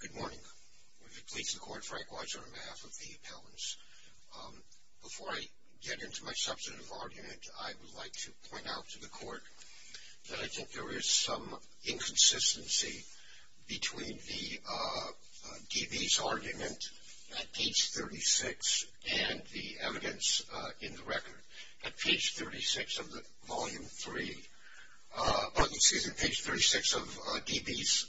Good morning. We're pleased to court Frank Weitz on behalf of the appellants. Before I get into my substantive argument, I would like to point out to the court that I think there is some inconsistency between the DB's argument at page 36 and the evidence in the record. At page 36 of the volume 3, excuse me, page 36 of DB's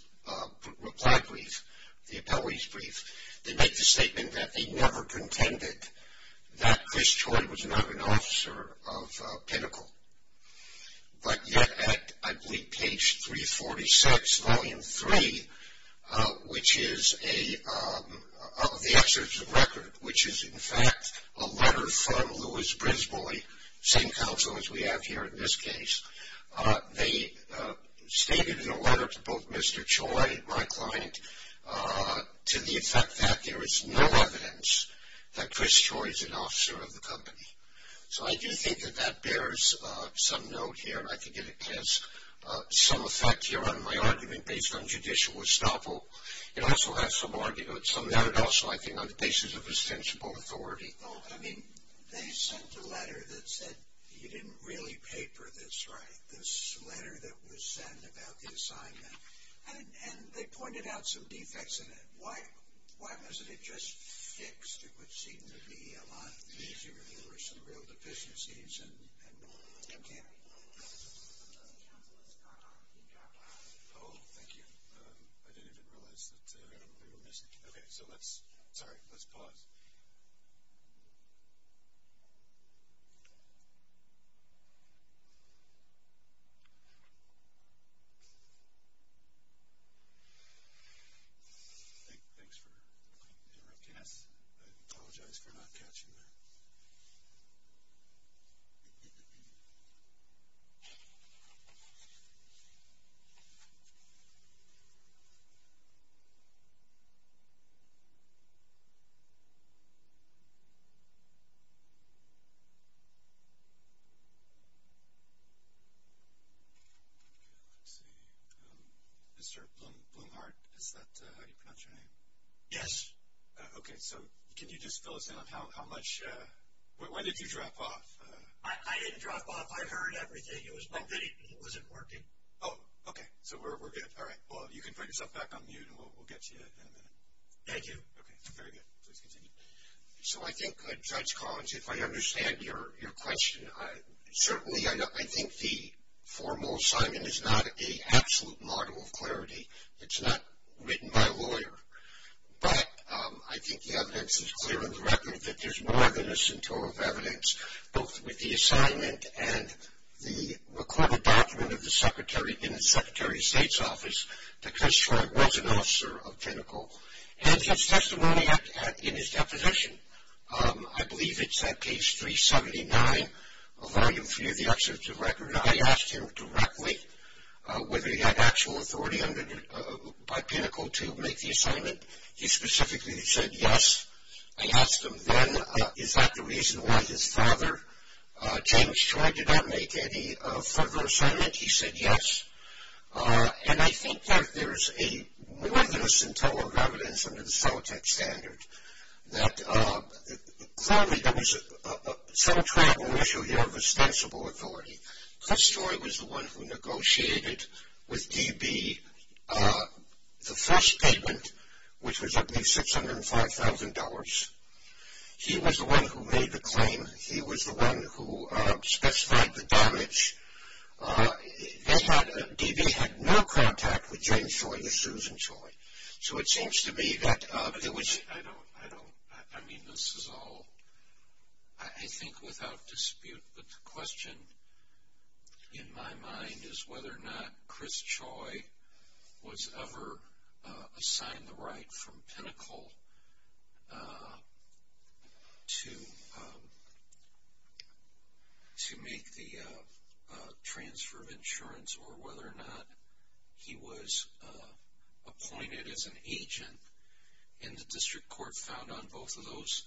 reply brief, the appellee's brief, they make the statement that they never contended that Chris Choi was not an officer of Pinnacle. But yet at, I believe, page 346, volume 3, which is the excerpt of the record, which is in fact a letter from Louis Brisbois, same counsel as we have here in this case, they stated in a letter to both Mr. Choi, my client, to the effect that there is no evidence that Chris Choi is an officer of the company. So I do think that that bears some note here. I think it has some effect here on my argument based on judicial estoppel. It also has some argument, some narrative also, I think, on the basis of ostensible authority. I mean, they sent a letter that said you didn't really paper this right, this letter that was sent about the assignment. And they pointed out some defects in it. Why wasn't it just fixed? It would seem to be a lot easier if there were some real deficiencies and more. Okay. The counsel has gone off. He dropped off. Oh, thank you. I didn't even realize that we were missing. Okay. So let's, sorry, let's pause. Thanks for interrupting us. I apologize for not catching that. Okay. Let's see. Mr. Blumhart, is that how you pronounce your name? Yes. Okay. So can you just fill us in on how much, when did you drop off? I didn't drop off. I heard everything. It was my video. It wasn't working. Well, you can find yourself back on mute, and we'll get to you in a minute. Thank you. Okay. Very good. Please continue. So I think, Judge Collins, if I understand your question, certainly I think the formal assignment is not an absolute model of clarity. It's not written by a lawyer. But I think the evidence is clear on the record that there's more than a cento of evidence, both with the assignment and the recorded document of the Secretary in the Secretary of State's office that Chris Troy was an officer of Pinnacle. And his testimony in his deposition, I believe it's that case 379, Volume 3 of the Executive Record, I asked him directly whether he had actual authority by Pinnacle to make the assignment. He specifically said yes. I asked him then, is that the reason why his father, James Troy, did not make any further assignment? He said yes. And I think that there's a more than a cento of evidence under the Celotek standard that clearly there was some track and ratio here of ostensible authority. Chris Troy was the one who negotiated with DB the first payment, which was at least $605,000. He was the one who made the claim. He was the one who specified the damage. DB had no contact with James Troy, the Susan Troy. So it seems to me that it was... I mean, this is all, I think, without dispute. But the question in my mind is whether or not Chris Troy was ever assigned the right from Pinnacle to make the transfer of insurance or whether or not he was appointed as an agent. And the district court found on both of those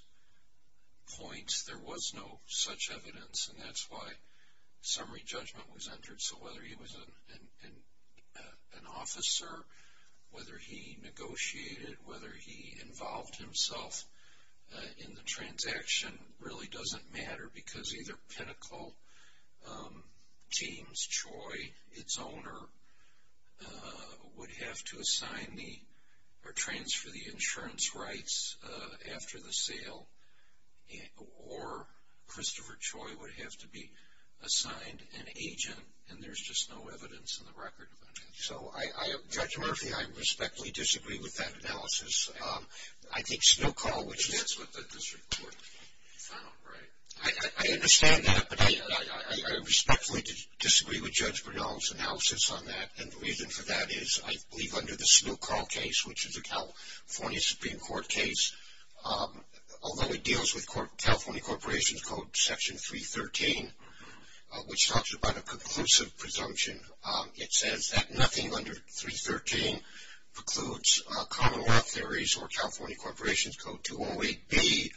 points there was no such evidence, and that's why summary judgment was entered. So whether he was an officer, whether he negotiated, whether he involved himself in the transaction really doesn't matter because either Pinnacle, James Troy, its owner, would have to assign the or transfer the insurance rights after the sale, or Christopher Troy would have to be assigned an agent, and there's just no evidence in the record of an agent. So Judge Murphy, I respectfully disagree with that analysis. I think Snoqual, which is... That's what the district court found, right? I understand that, but I respectfully disagree with Judge Bernal's analysis on that, and the reason for that is I believe under the Snoqual case, which is a California Supreme Court case, although it deals with California Corporation Code Section 313, which talks about a conclusive presumption, it says that nothing under 313 precludes common law theories or California Corporation's Code 208B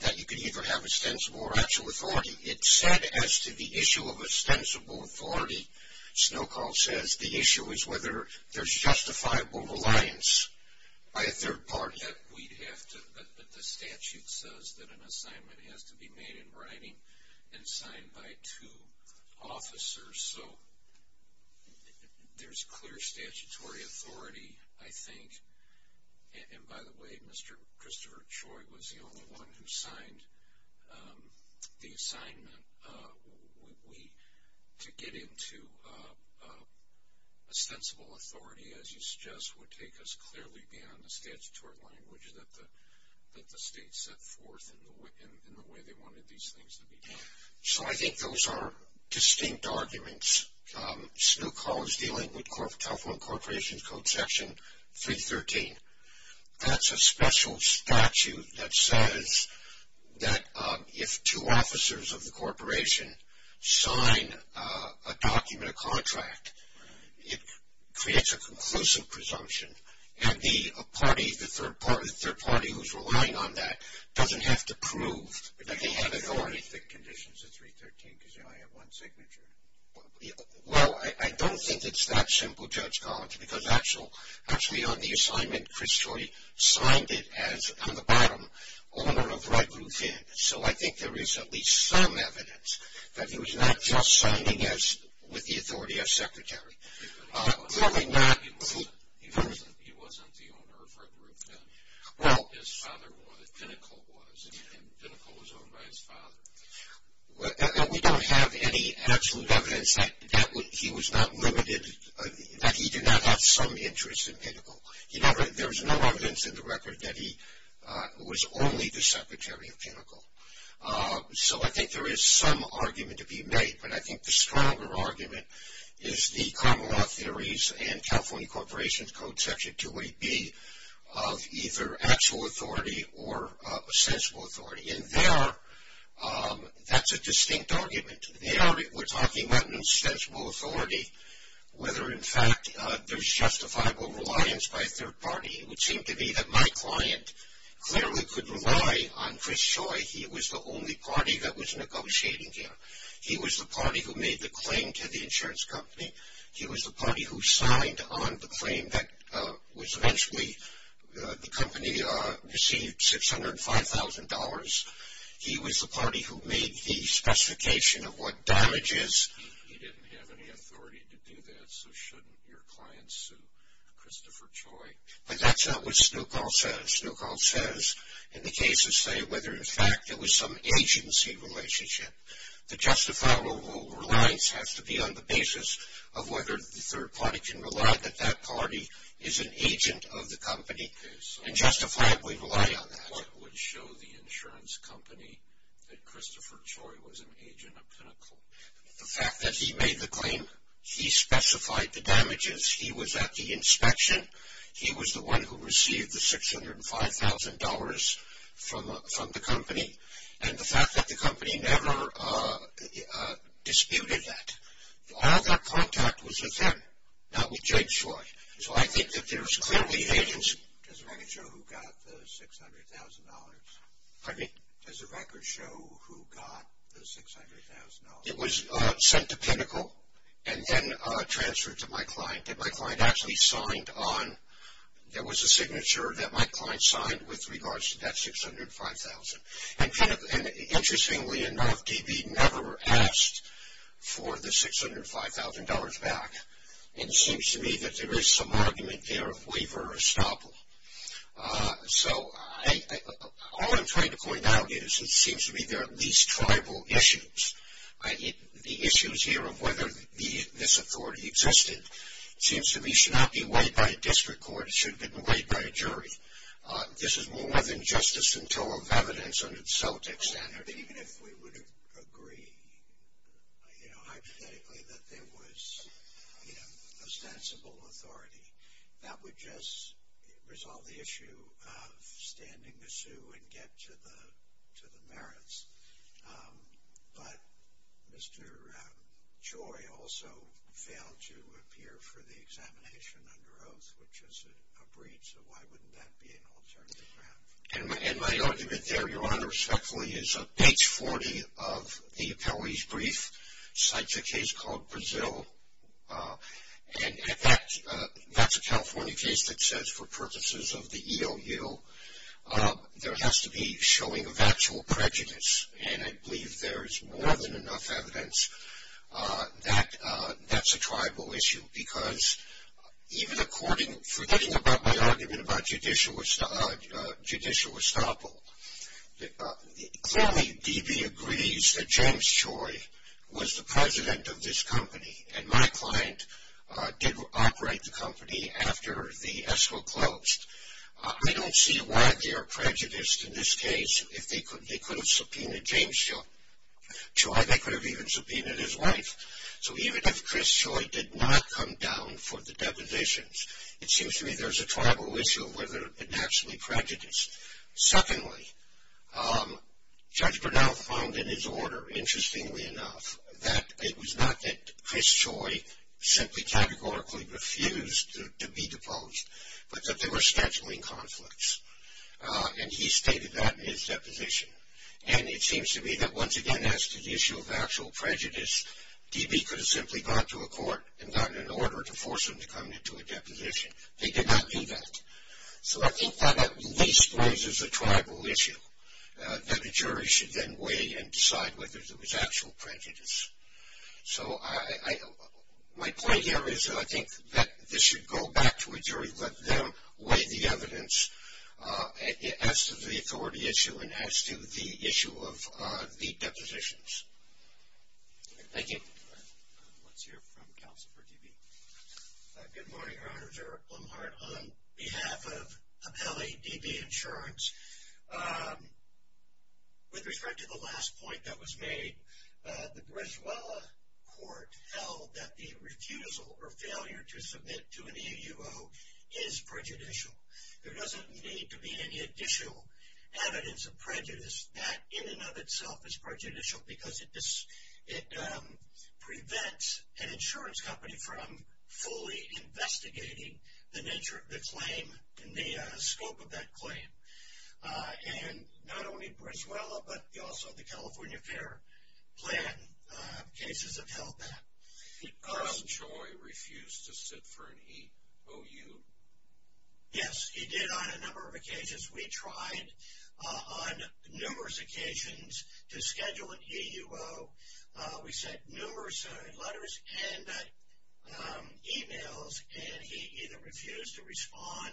that you can either have ostensible or actual authority. It said as to the issue of ostensible authority, Snoqual says, the issue is whether there's justifiable reliance by a third party. We'd have to... The statute says that an assignment has to be made in writing and signed by two officers. So there's clear statutory authority, I think. And by the way, Mr. Christopher Troy was the only one who signed the assignment. To get into ostensible authority, as you suggest, would take us clearly beyond the statutory language that the state set forth in the way they wanted these things to be done. So I think those are distinct arguments. Snoqual is dealing with California Corporation's Code Section 313. That's a special statute that says that if two officers of the corporation sign a document, a contract, it creates a conclusive presumption, and the party, the third party who's relying on that, doesn't have to prove that they have authority. But you can't draw any thick conditions in 313 because you only have one signature. Well, I don't think it's that simple, Judge Collins, because actually on the assignment, Chris Troy signed it as, on the bottom, owner of Red Roof Inn. So I think there is at least some evidence that he was not just signing with the authority of secretary. He wasn't the owner of Red Roof Inn. His father was, Pinnacle was, and Pinnacle was owned by his father. We don't have any absolute evidence that he was not limited, that he did not have some interest in Pinnacle. There is no evidence in the record that he was only the secretary of Pinnacle. So I think there is some argument to be made, but I think the stronger argument is the common law theories and California Corporation's Code Section 28B of either actual authority or sensible authority. And that's a distinct argument. We're talking about an insensible authority, whether in fact there's justifiable reliance by a third party. It would seem to me that my client clearly could rely on Chris Troy. He was the only party that was negotiating here. He was the party who made the claim to the insurance company. He was the party who signed on the claim that was eventually the company received $605,000. He was the party who made the specification of what damages. He didn't have any authority to do that, so shouldn't your client sue Christopher Troy? But that's not what Snoqual says. Snoqual says, in the case of say, whether in fact there was some agency relationship. The justifiable reliance has to be on the basis of whether the third party can rely that that party is an agent of the company and justifiably rely on that. What would show the insurance company that Christopher Troy was an agent of Pinnacle? The fact that he made the claim, he specified the damages. He was at the inspection. He was the one who received the $605,000 from the company. And the fact that the company never disputed that. All that contact was with him, not with James Troy. So I think that there's clearly agency. Does the record show who got the $600,000? Pardon me? Does the record show who got the $600,000? It was sent to Pinnacle and then transferred to my client. And my client actually signed on. There was a signature that my client signed with regards to that $605,000. And interestingly enough, DB never asked for the $605,000 back. And it seems to me that there is some argument there of waiver or estoppel. So all I'm trying to point out is it seems to me there are at least tribal issues. The issues here of whether this authority existed, seems to me should not be weighed by a district court. It should have been weighed by a jury. This is more than justice in tow of evidence under the Celtic standard. Even if we would agree hypothetically that there was ostensible authority, that would just resolve the issue of standing the sue and get to the merits. But Mr. Choi also failed to appear for the examination under oath, which is a breach. So why wouldn't that be an alternative? And my argument there, Your Honor, respectfully, is page 40 of the appellee's brief cites a case called Brazil. And that's a California case that says for purposes of the EOU, there has to be showing of actual prejudice. And I believe there is more than enough evidence that that's a tribal issue. Because even according, forgetting about my argument about judicial estoppel, clearly DB agrees that James Choi was the president of this company. And my client did operate the company after the escrow closed. I don't see why they are prejudiced in this case if they could have subpoenaed James Choi. They could have even subpoenaed his wife. So even if Chris Choi did not come down for the depositions, it seems to me there's a tribal issue where they're actually prejudiced. Secondly, Judge Bernal found in his order, interestingly enough, that it was not that Chris Choi simply categorically refused to be deposed, but that there were scheduling conflicts. And he stated that in his deposition. And it seems to me that once again as to the issue of actual prejudice, DB could have simply gone to a court and gotten an order to force him to come into a deposition. They did not do that. So I think that at least raises a tribal issue, that a jury should then weigh and decide whether there was actual prejudice. So my point here is that I think that this should go back to a jury, let them weigh the evidence as to the authority issue and as to the issue of the depositions. Thank you. Let's hear from counsel for DB. Good morning, Your Honor. Derek Blumhart on behalf of Pepele DB Insurance. With respect to the last point that was made, the Griswold Court held that the refusal or failure to submit to an AUO is prejudicial. There doesn't need to be any additional evidence of prejudice. That in and of itself is prejudicial because it prevents an insurance company from fully investigating the nature of the claim and the scope of that claim. And not only in Venezuela, but also the California Fair Plan cases have held that. Carl Choi refused to sit for an EOU. Yes, he did on a number of occasions. We tried on numerous occasions to schedule an EUO. We sent numerous letters and emails, and he either refused to respond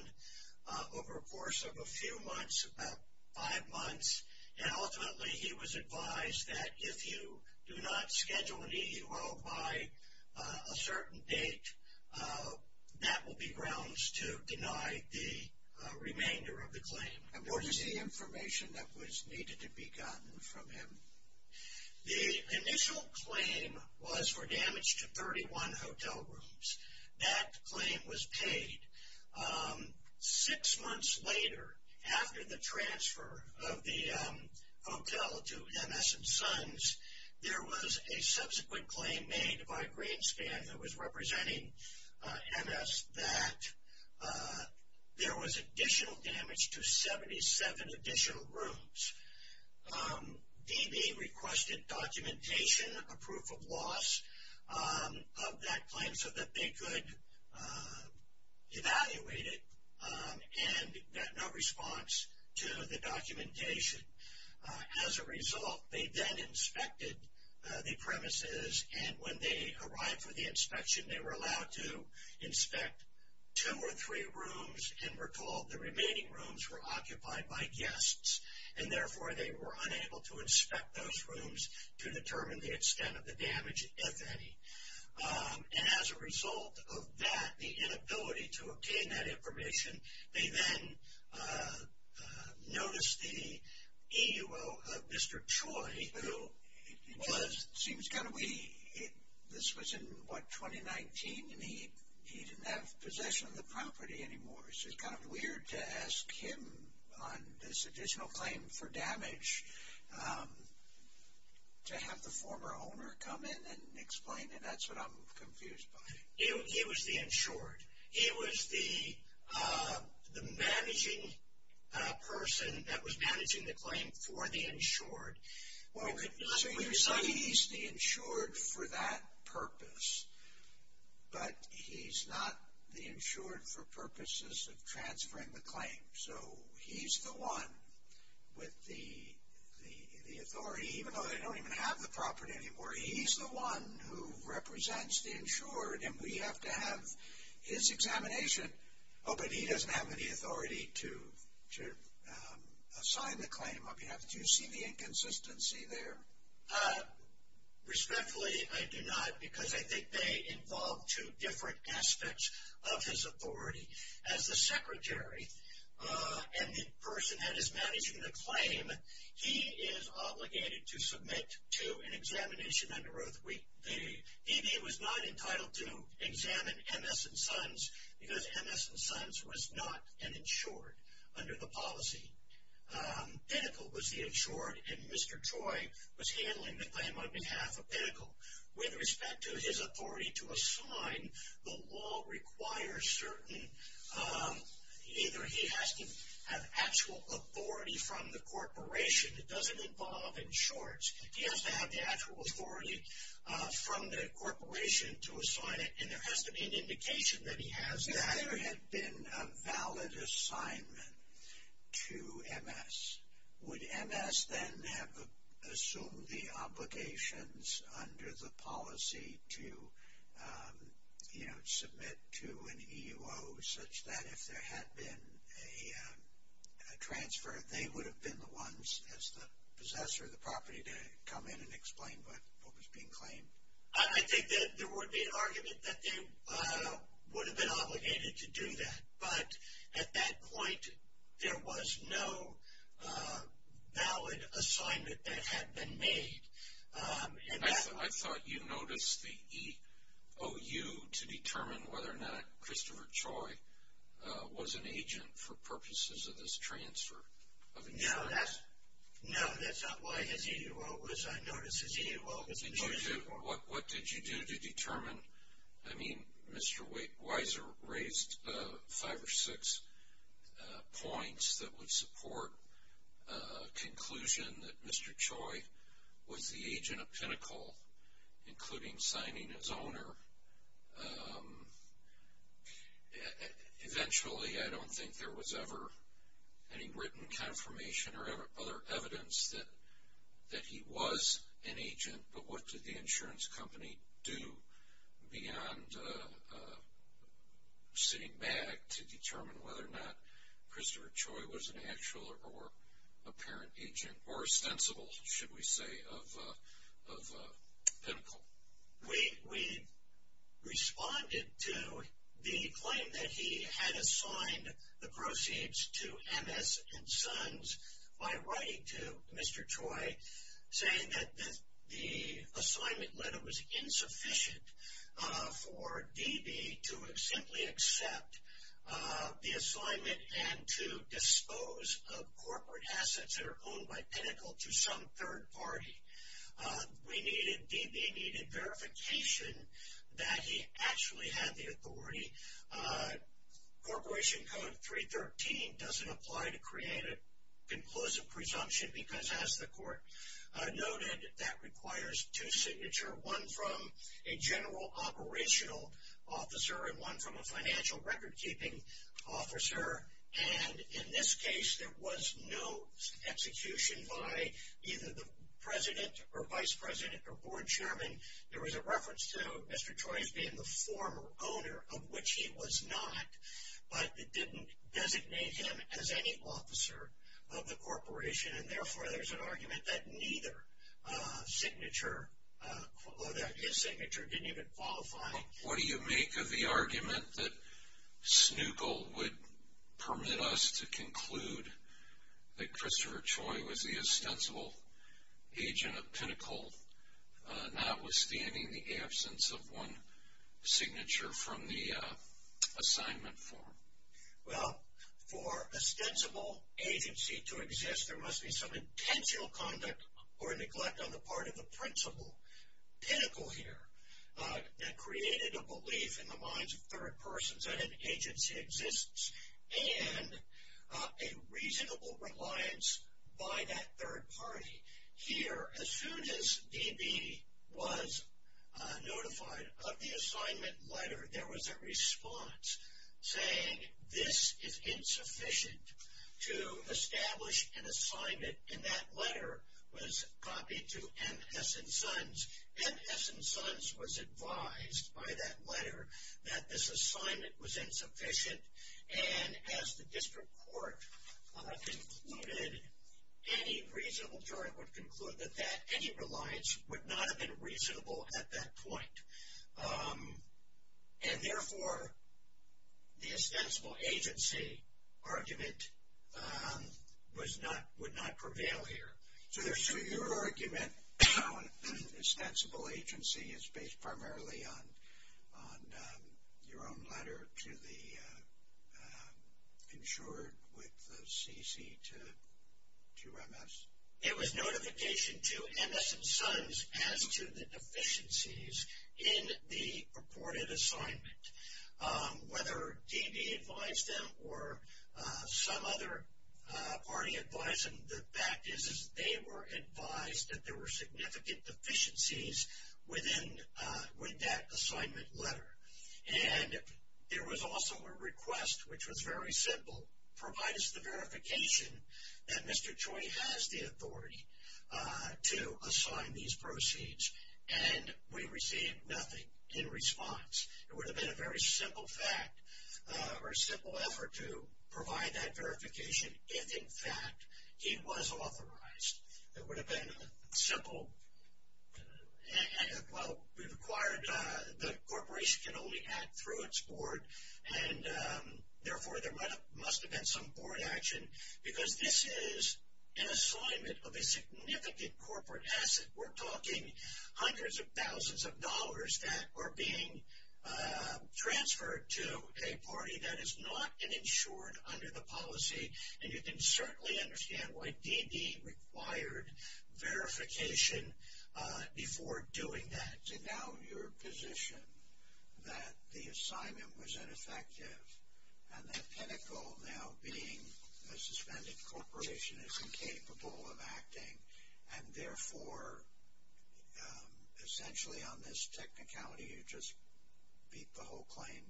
over a course of a few months, about five months, and ultimately he was advised that if you do not schedule an EUO by a certain date, that will be grounds to deny the remainder of the claim. What is the information that was needed to be gotten from him? The initial claim was for damage to 31 hotel rooms. That claim was paid. Six months later, after the transfer of the hotel to MS and Sons, there was a subsequent claim made by Greenspan that was representing MS that there was additional damage to 77 additional rooms. DB requested documentation, a proof of loss of that claim, so that they could evaluate it and got no response to the documentation. As a result, they then inspected the premises, and when they arrived for the inspection, they were allowed to inspect two or three rooms and recalled the remaining rooms were occupied by guests. And therefore, they were unable to inspect those rooms to determine the extent of the damage, if any. And as a result of that, the inability to obtain that information, they then noticed the EUO of Mr. Choi, who was— It seems kind of weird. This was in, what, 2019, and he didn't have possession of the property anymore. So it's kind of weird to ask him on this additional claim for damage to have the former owner come in and explain it. That's what I'm confused by. He was the insured. He was the managing person that was managing the claim for the insured. So you're saying he's the insured for that purpose, but he's not the insured for purposes of transferring the claim. So he's the one with the authority, even though they don't even have the property anymore. He's the one who represents the insured, and we have to have his examination. Oh, but he doesn't have any authority to assign the claim on behalf— Do you see the inconsistency there? Respectfully, I do not, because I think they involve two different aspects of his authority. As the secretary and the person that is managing the claim, he is obligated to submit to an examination under oath. He was not entitled to examine M.S. and Sons, because M.S. and Sons was not an insured under the policy. Pinnacle was the insured, and Mr. Troy was handling the claim on behalf of Pinnacle. With respect to his authority to assign, the law requires certain— either he has to have actual authority from the corporation. It doesn't involve insureds. He has to have the actual authority from the corporation to assign it, and there has to be an indication that he has that. If there had been a valid assignment to M.S., would M.S. then have assumed the obligations under the policy to, you know, submit to an E.U.O. such that if there had been a transfer, they would have been the ones as the possessor of the property to come in and explain what was being claimed? I think that there would be an argument that they would have been obligated to do that, but at that point there was no valid assignment that had been made. I thought you noticed the E.O.U. to determine whether or not Christopher Troy was an agent for purposes of this transfer of insurance. No, that's not why his E.U.O. was— What did you do to determine? I mean, Mr. Weiser raised five or six points that would support a conclusion that Mr. Troy was the agent of Pinnacle, including signing his owner. Eventually, I don't think there was ever any written confirmation or other evidence that he was an agent, but what did the insurance company do beyond sitting back to determine whether or not Christopher Troy was an actual or apparent agent, or ostensible, should we say, of Pinnacle? We responded to the claim that he had assigned the proceeds to M.S. and Sons by writing to Mr. Troy saying that the assignment letter was insufficient for D.B. to simply accept the assignment and to dispose of corporate assets that are owned by Pinnacle to some third party. D.B. needed verification that he actually had the authority. Corporation Code 313 doesn't apply to create a conclusive presumption because, as the court noted, that requires two signatures, one from a general operational officer and one from a financial record-keeping officer. In this case, there was no execution by either the president or vice president or board chairman. There was a reference to Mr. Troy as being the former owner, of which he was not, but it didn't designate him as any officer of the corporation, and therefore there's an argument that neither signature, or that his signature didn't even qualify. What do you make of the argument that Snoogle would permit us to conclude that Christopher Troy was the ostensible agent of Pinnacle, notwithstanding the absence of one signature from the assignment form? Well, for ostensible agency to exist, there must be some intentional conduct or neglect on the part of the principal, Pinnacle here, that created a belief in the minds of third persons that an agency exists and a reasonable reliance by that third party. Here, as soon as D.B. was notified of the assignment letter, there was a response saying, this is insufficient to establish an assignment, and that letter was copied to M.S. and Sons. M.S. and Sons was advised by that letter that this assignment was insufficient, and as the district court concluded, any reasonable jury would conclude that that, any reliance would not have been reasonable at that point. And, therefore, the ostensible agency argument was not, would not prevail here. So, your argument on ostensible agency is based primarily on your own letter to the insured with the C.C. to M.S.? It was notification to M.S. and Sons as to the deficiencies in the purported assignment. Whether D.B. advised them or some other party advised them, the fact is that they were advised that there were significant deficiencies within, with that assignment letter. And there was also a request, which was very simple, provide us the verification that Mr. Choi has the authority to assign these proceeds, and we received nothing in response. It would have been a very simple fact or a simple effort to provide that verification if, in fact, he was authorized. It would have been a simple, well, we've acquired, the corporation can only act through its board, and, therefore, there must have been some board action because this is an assignment of a significant corporate asset. We're talking hundreds of thousands of dollars that are being transferred to a party that is not an insured under the policy, and you can certainly understand why D.B. required verification before doing that. Mr. Dowd, your position that the assignment was ineffective and that Pinnacle now being a suspended corporation is incapable of acting, and, therefore, essentially on this technicality you just beat the whole claim?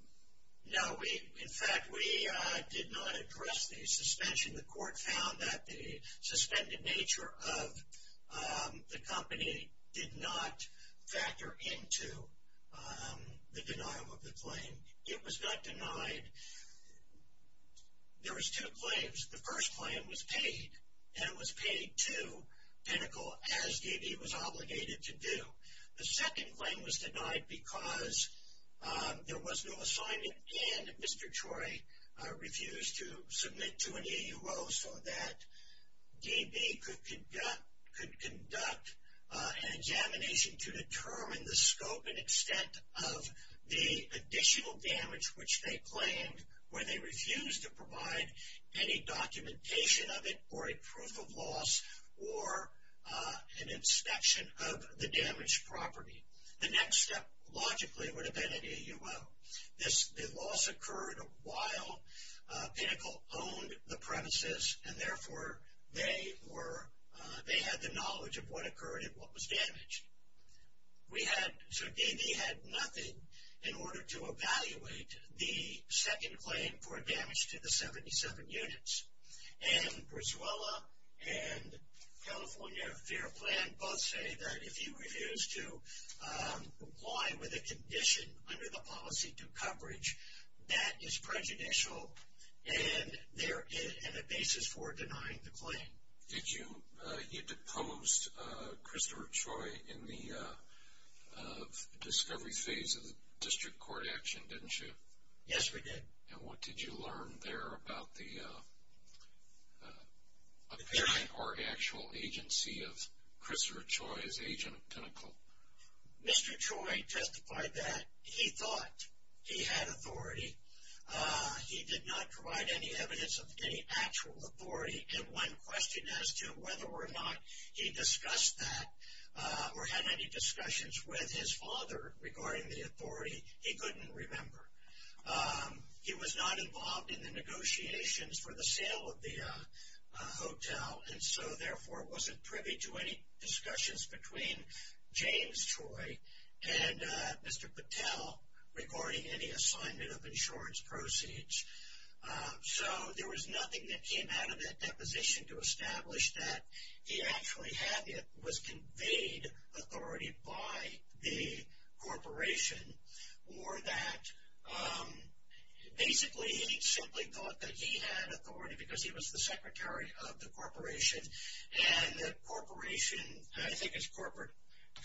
No, we, in fact, we did not address the suspension. The court found that the suspended nature of the company did not factor into the denial of the claim. It was not denied. There was two claims. The first claim was paid, and it was paid to Pinnacle as D.B. was obligated to do. The second claim was denied because there was no assignment and Mr. Troy refused to submit to an AUO so that D.B. could conduct an examination to determine the scope and extent of the additional damage, which they claimed where they refused to provide any documentation of it or a proof of loss or an inspection of the damaged property. The next step, logically, would have been an AUO. The loss occurred while Pinnacle owned the premises, and, therefore, they had the knowledge of what occurred and what was damaged. So, D.B. had nothing in order to evaluate the second claim for damage to the 77 units. And Griswolda and California Fair Plan both say that if he refuses to comply with a condition under the policy to coverage, that is prejudicial and a basis for denying the claim. You deposed Christopher Troy in the discovery phase of the district court action, didn't you? Yes, we did. And what did you learn there about the apparent or actual agency of Christopher Troy as agent of Pinnacle? Mr. Troy testified that he thought he had authority. He did not provide any evidence of any actual authority, and when questioned as to whether or not he discussed that or had any discussions with his father regarding the authority, he couldn't remember. He was not involved in the negotiations for the sale of the hotel, and so, therefore, wasn't privy to any discussions between James Troy and Mr. Patel regarding any assignment of insurance proceeds. So, there was nothing that came out of that deposition to establish that he actually had it, was conveyed authority by the corporation, or that basically he simply thought that he had authority because he was the secretary of the corporation, and the corporation, I think it's corporate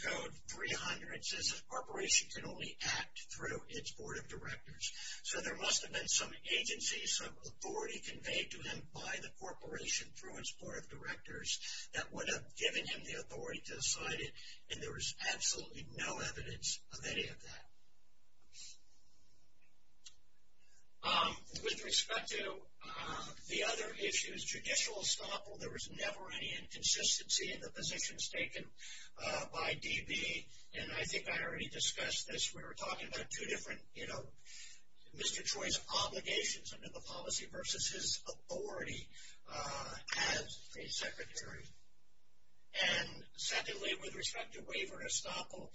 code 300, says the corporation can only act through its board of directors. So, there must have been some agency, some authority conveyed to him by the corporation through its board of directors that would have given him the authority to decide it, and there was absolutely no evidence of any of that. With respect to the other issues, judicial estoppel, there was never any inconsistency in the positions taken by DB, and I think I already discussed this. We were talking about two different, you know, Mr. Troy's obligations under the policy versus his authority as a secretary, and secondly, with respect to waiver and estoppel,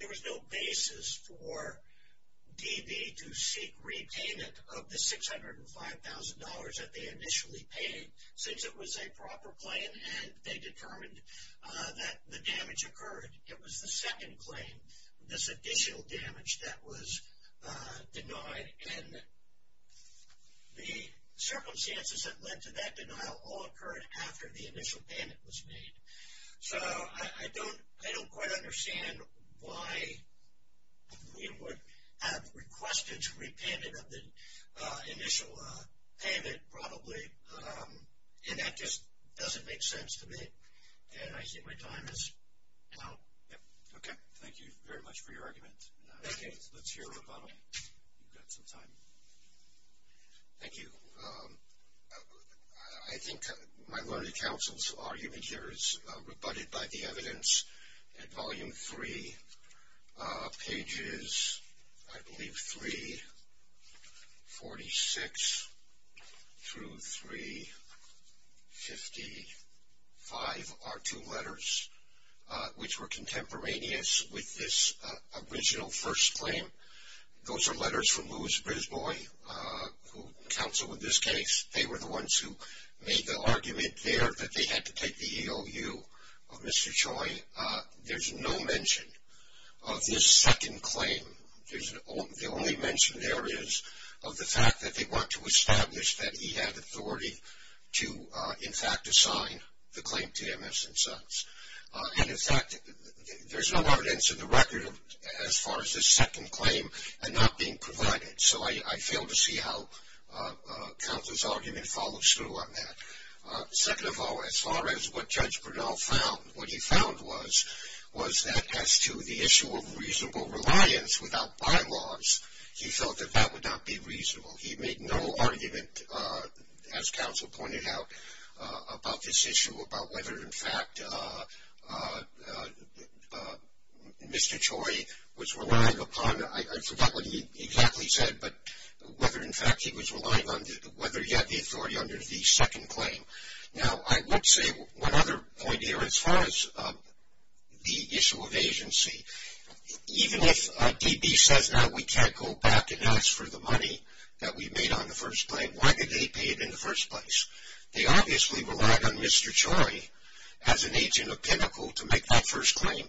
there was no basis for DB to seek repayment of the $605,000 that they initially paid since it was a proper claim, and they determined that the damage occurred. It was the second claim, this additional damage that was denied, and the circumstances that led to that denial all occurred after the initial payment was made. So, I don't quite understand why we would have requested to repayment of the initial payment probably, and that just doesn't make sense to me, and I think my time is now. Okay, thank you very much for your argument. Okay, let's hear a rebuttal. You've got some time. Thank you. I think my learned counsel's argument here is rebutted by the evidence at volume three, pages, I believe, 346 through 355 are two letters, which were contemporaneous with this original first claim. Those are letters from Louis Brisbois, who counseled in this case. They were the ones who made the argument there that they had to take the EOU of Mr. Choi. There's no mention of this second claim. The only mention there is of the fact that they want to establish that he had authority to, in fact, assign the claim to MS and Sons. And, in fact, there's no evidence in the record as far as this second claim and not being provided, so I fail to see how counsel's argument follows through on that. Second of all, as far as what Judge Bernal found, what he found was that as to the issue of reasonable reliance without bylaws, he felt that that would not be reasonable. He made no argument, as counsel pointed out, about this issue, about whether, in fact, Mr. Choi was relying upon, I forgot what he exactly said, but whether, in fact, he was relying on, whether he had the authority under the second claim. Now, I would say one other point here as far as the issue of agency. Even if DB says now we can't go back and ask for the money that we made on the first claim, why did they pay it in the first place? They obviously relied on Mr. Choi as an agent of Pinnacle to make that first claim,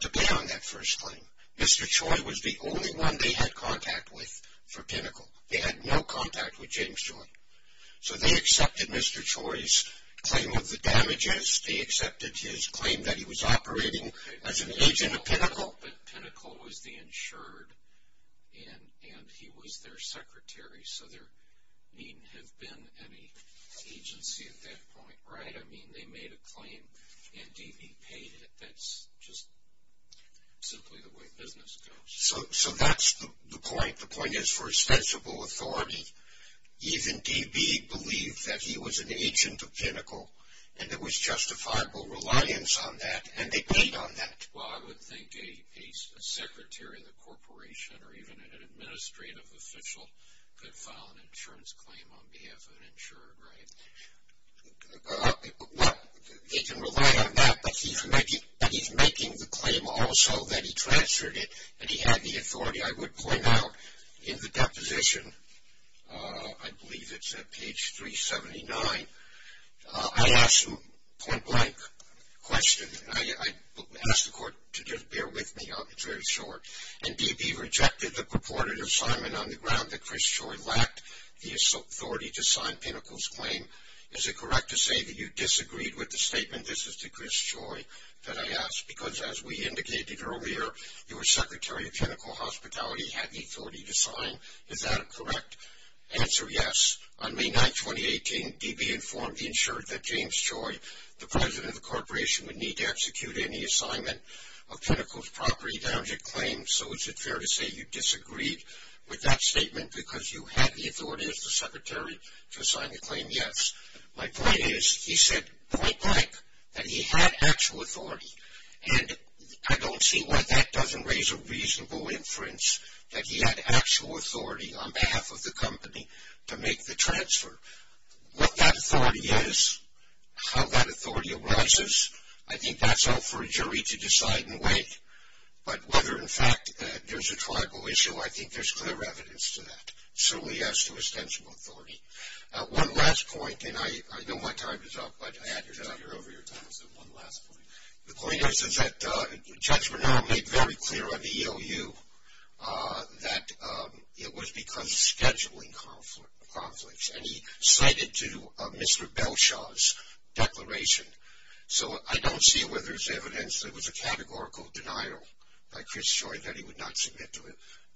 to be on that first claim. Mr. Choi was the only one they had contact with for Pinnacle. They had no contact with James Choi. So they accepted Mr. Choi's claim of the damages. They accepted his claim that he was operating as an agent of Pinnacle. Well, but Pinnacle was the insured, and he was their secretary, so there needn't have been any agency at that point, right? I mean, they made a claim, and DB paid it. That's just simply the way business goes. So that's the point. The point is, for ostensible authority, even DB believed that he was an agent of Pinnacle, and there was justifiable reliance on that, and they paid on that. Well, I would think a secretary of the corporation or even an administrative official could file an insurance claim on behalf of an insured, right? Well, they can rely on that, but he's making the claim also that he transferred it, and he had the authority, I would point out, in the deposition. I believe it's at page 379. I asked a point-blank question. I asked the court to just bear with me. It's very short. And DB rejected the purported assignment on the ground that Chris Choi lacked the authority to sign Pinnacle's claim. Is it correct to say that you disagreed with the statement? This is to Chris Choi that I asked, because as we indicated earlier, your secretary of Pinnacle Hospitality had the authority to sign. Is that a correct answer? Yes. On May 9, 2018, DB informed the insured that James Choi, the president of the corporation, would need to execute any assignment of Pinnacle's property damage claims. So is it fair to say you disagreed with that statement because you had the authority as the secretary to sign the claim? Yes. My point is he said point-blank that he had actual authority, and I don't see why that doesn't raise a reasonable inference that he had actual authority on behalf of the company to make the transfer. What that authority is, how that authority arises, I think that's up for a jury to decide and weigh. But whether, in fact, there's a tribal issue, I think there's clear evidence to that, certainly as to extensive authority. One last point, and I know my time is up, but I had your time. You're over your time, so one last point. The point is that Judge Bernal made very clear on the EOU that it was because of scheduling conflicts, and he cited to Mr. Belshaw's declaration. So I don't see whether there's evidence that it was a categorical denial by Chris Choi that he would not submit to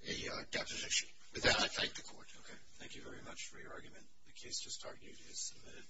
a deposition. With that, I thank the court. Okay. Thank you very much for your argument. The case just argued is submitted.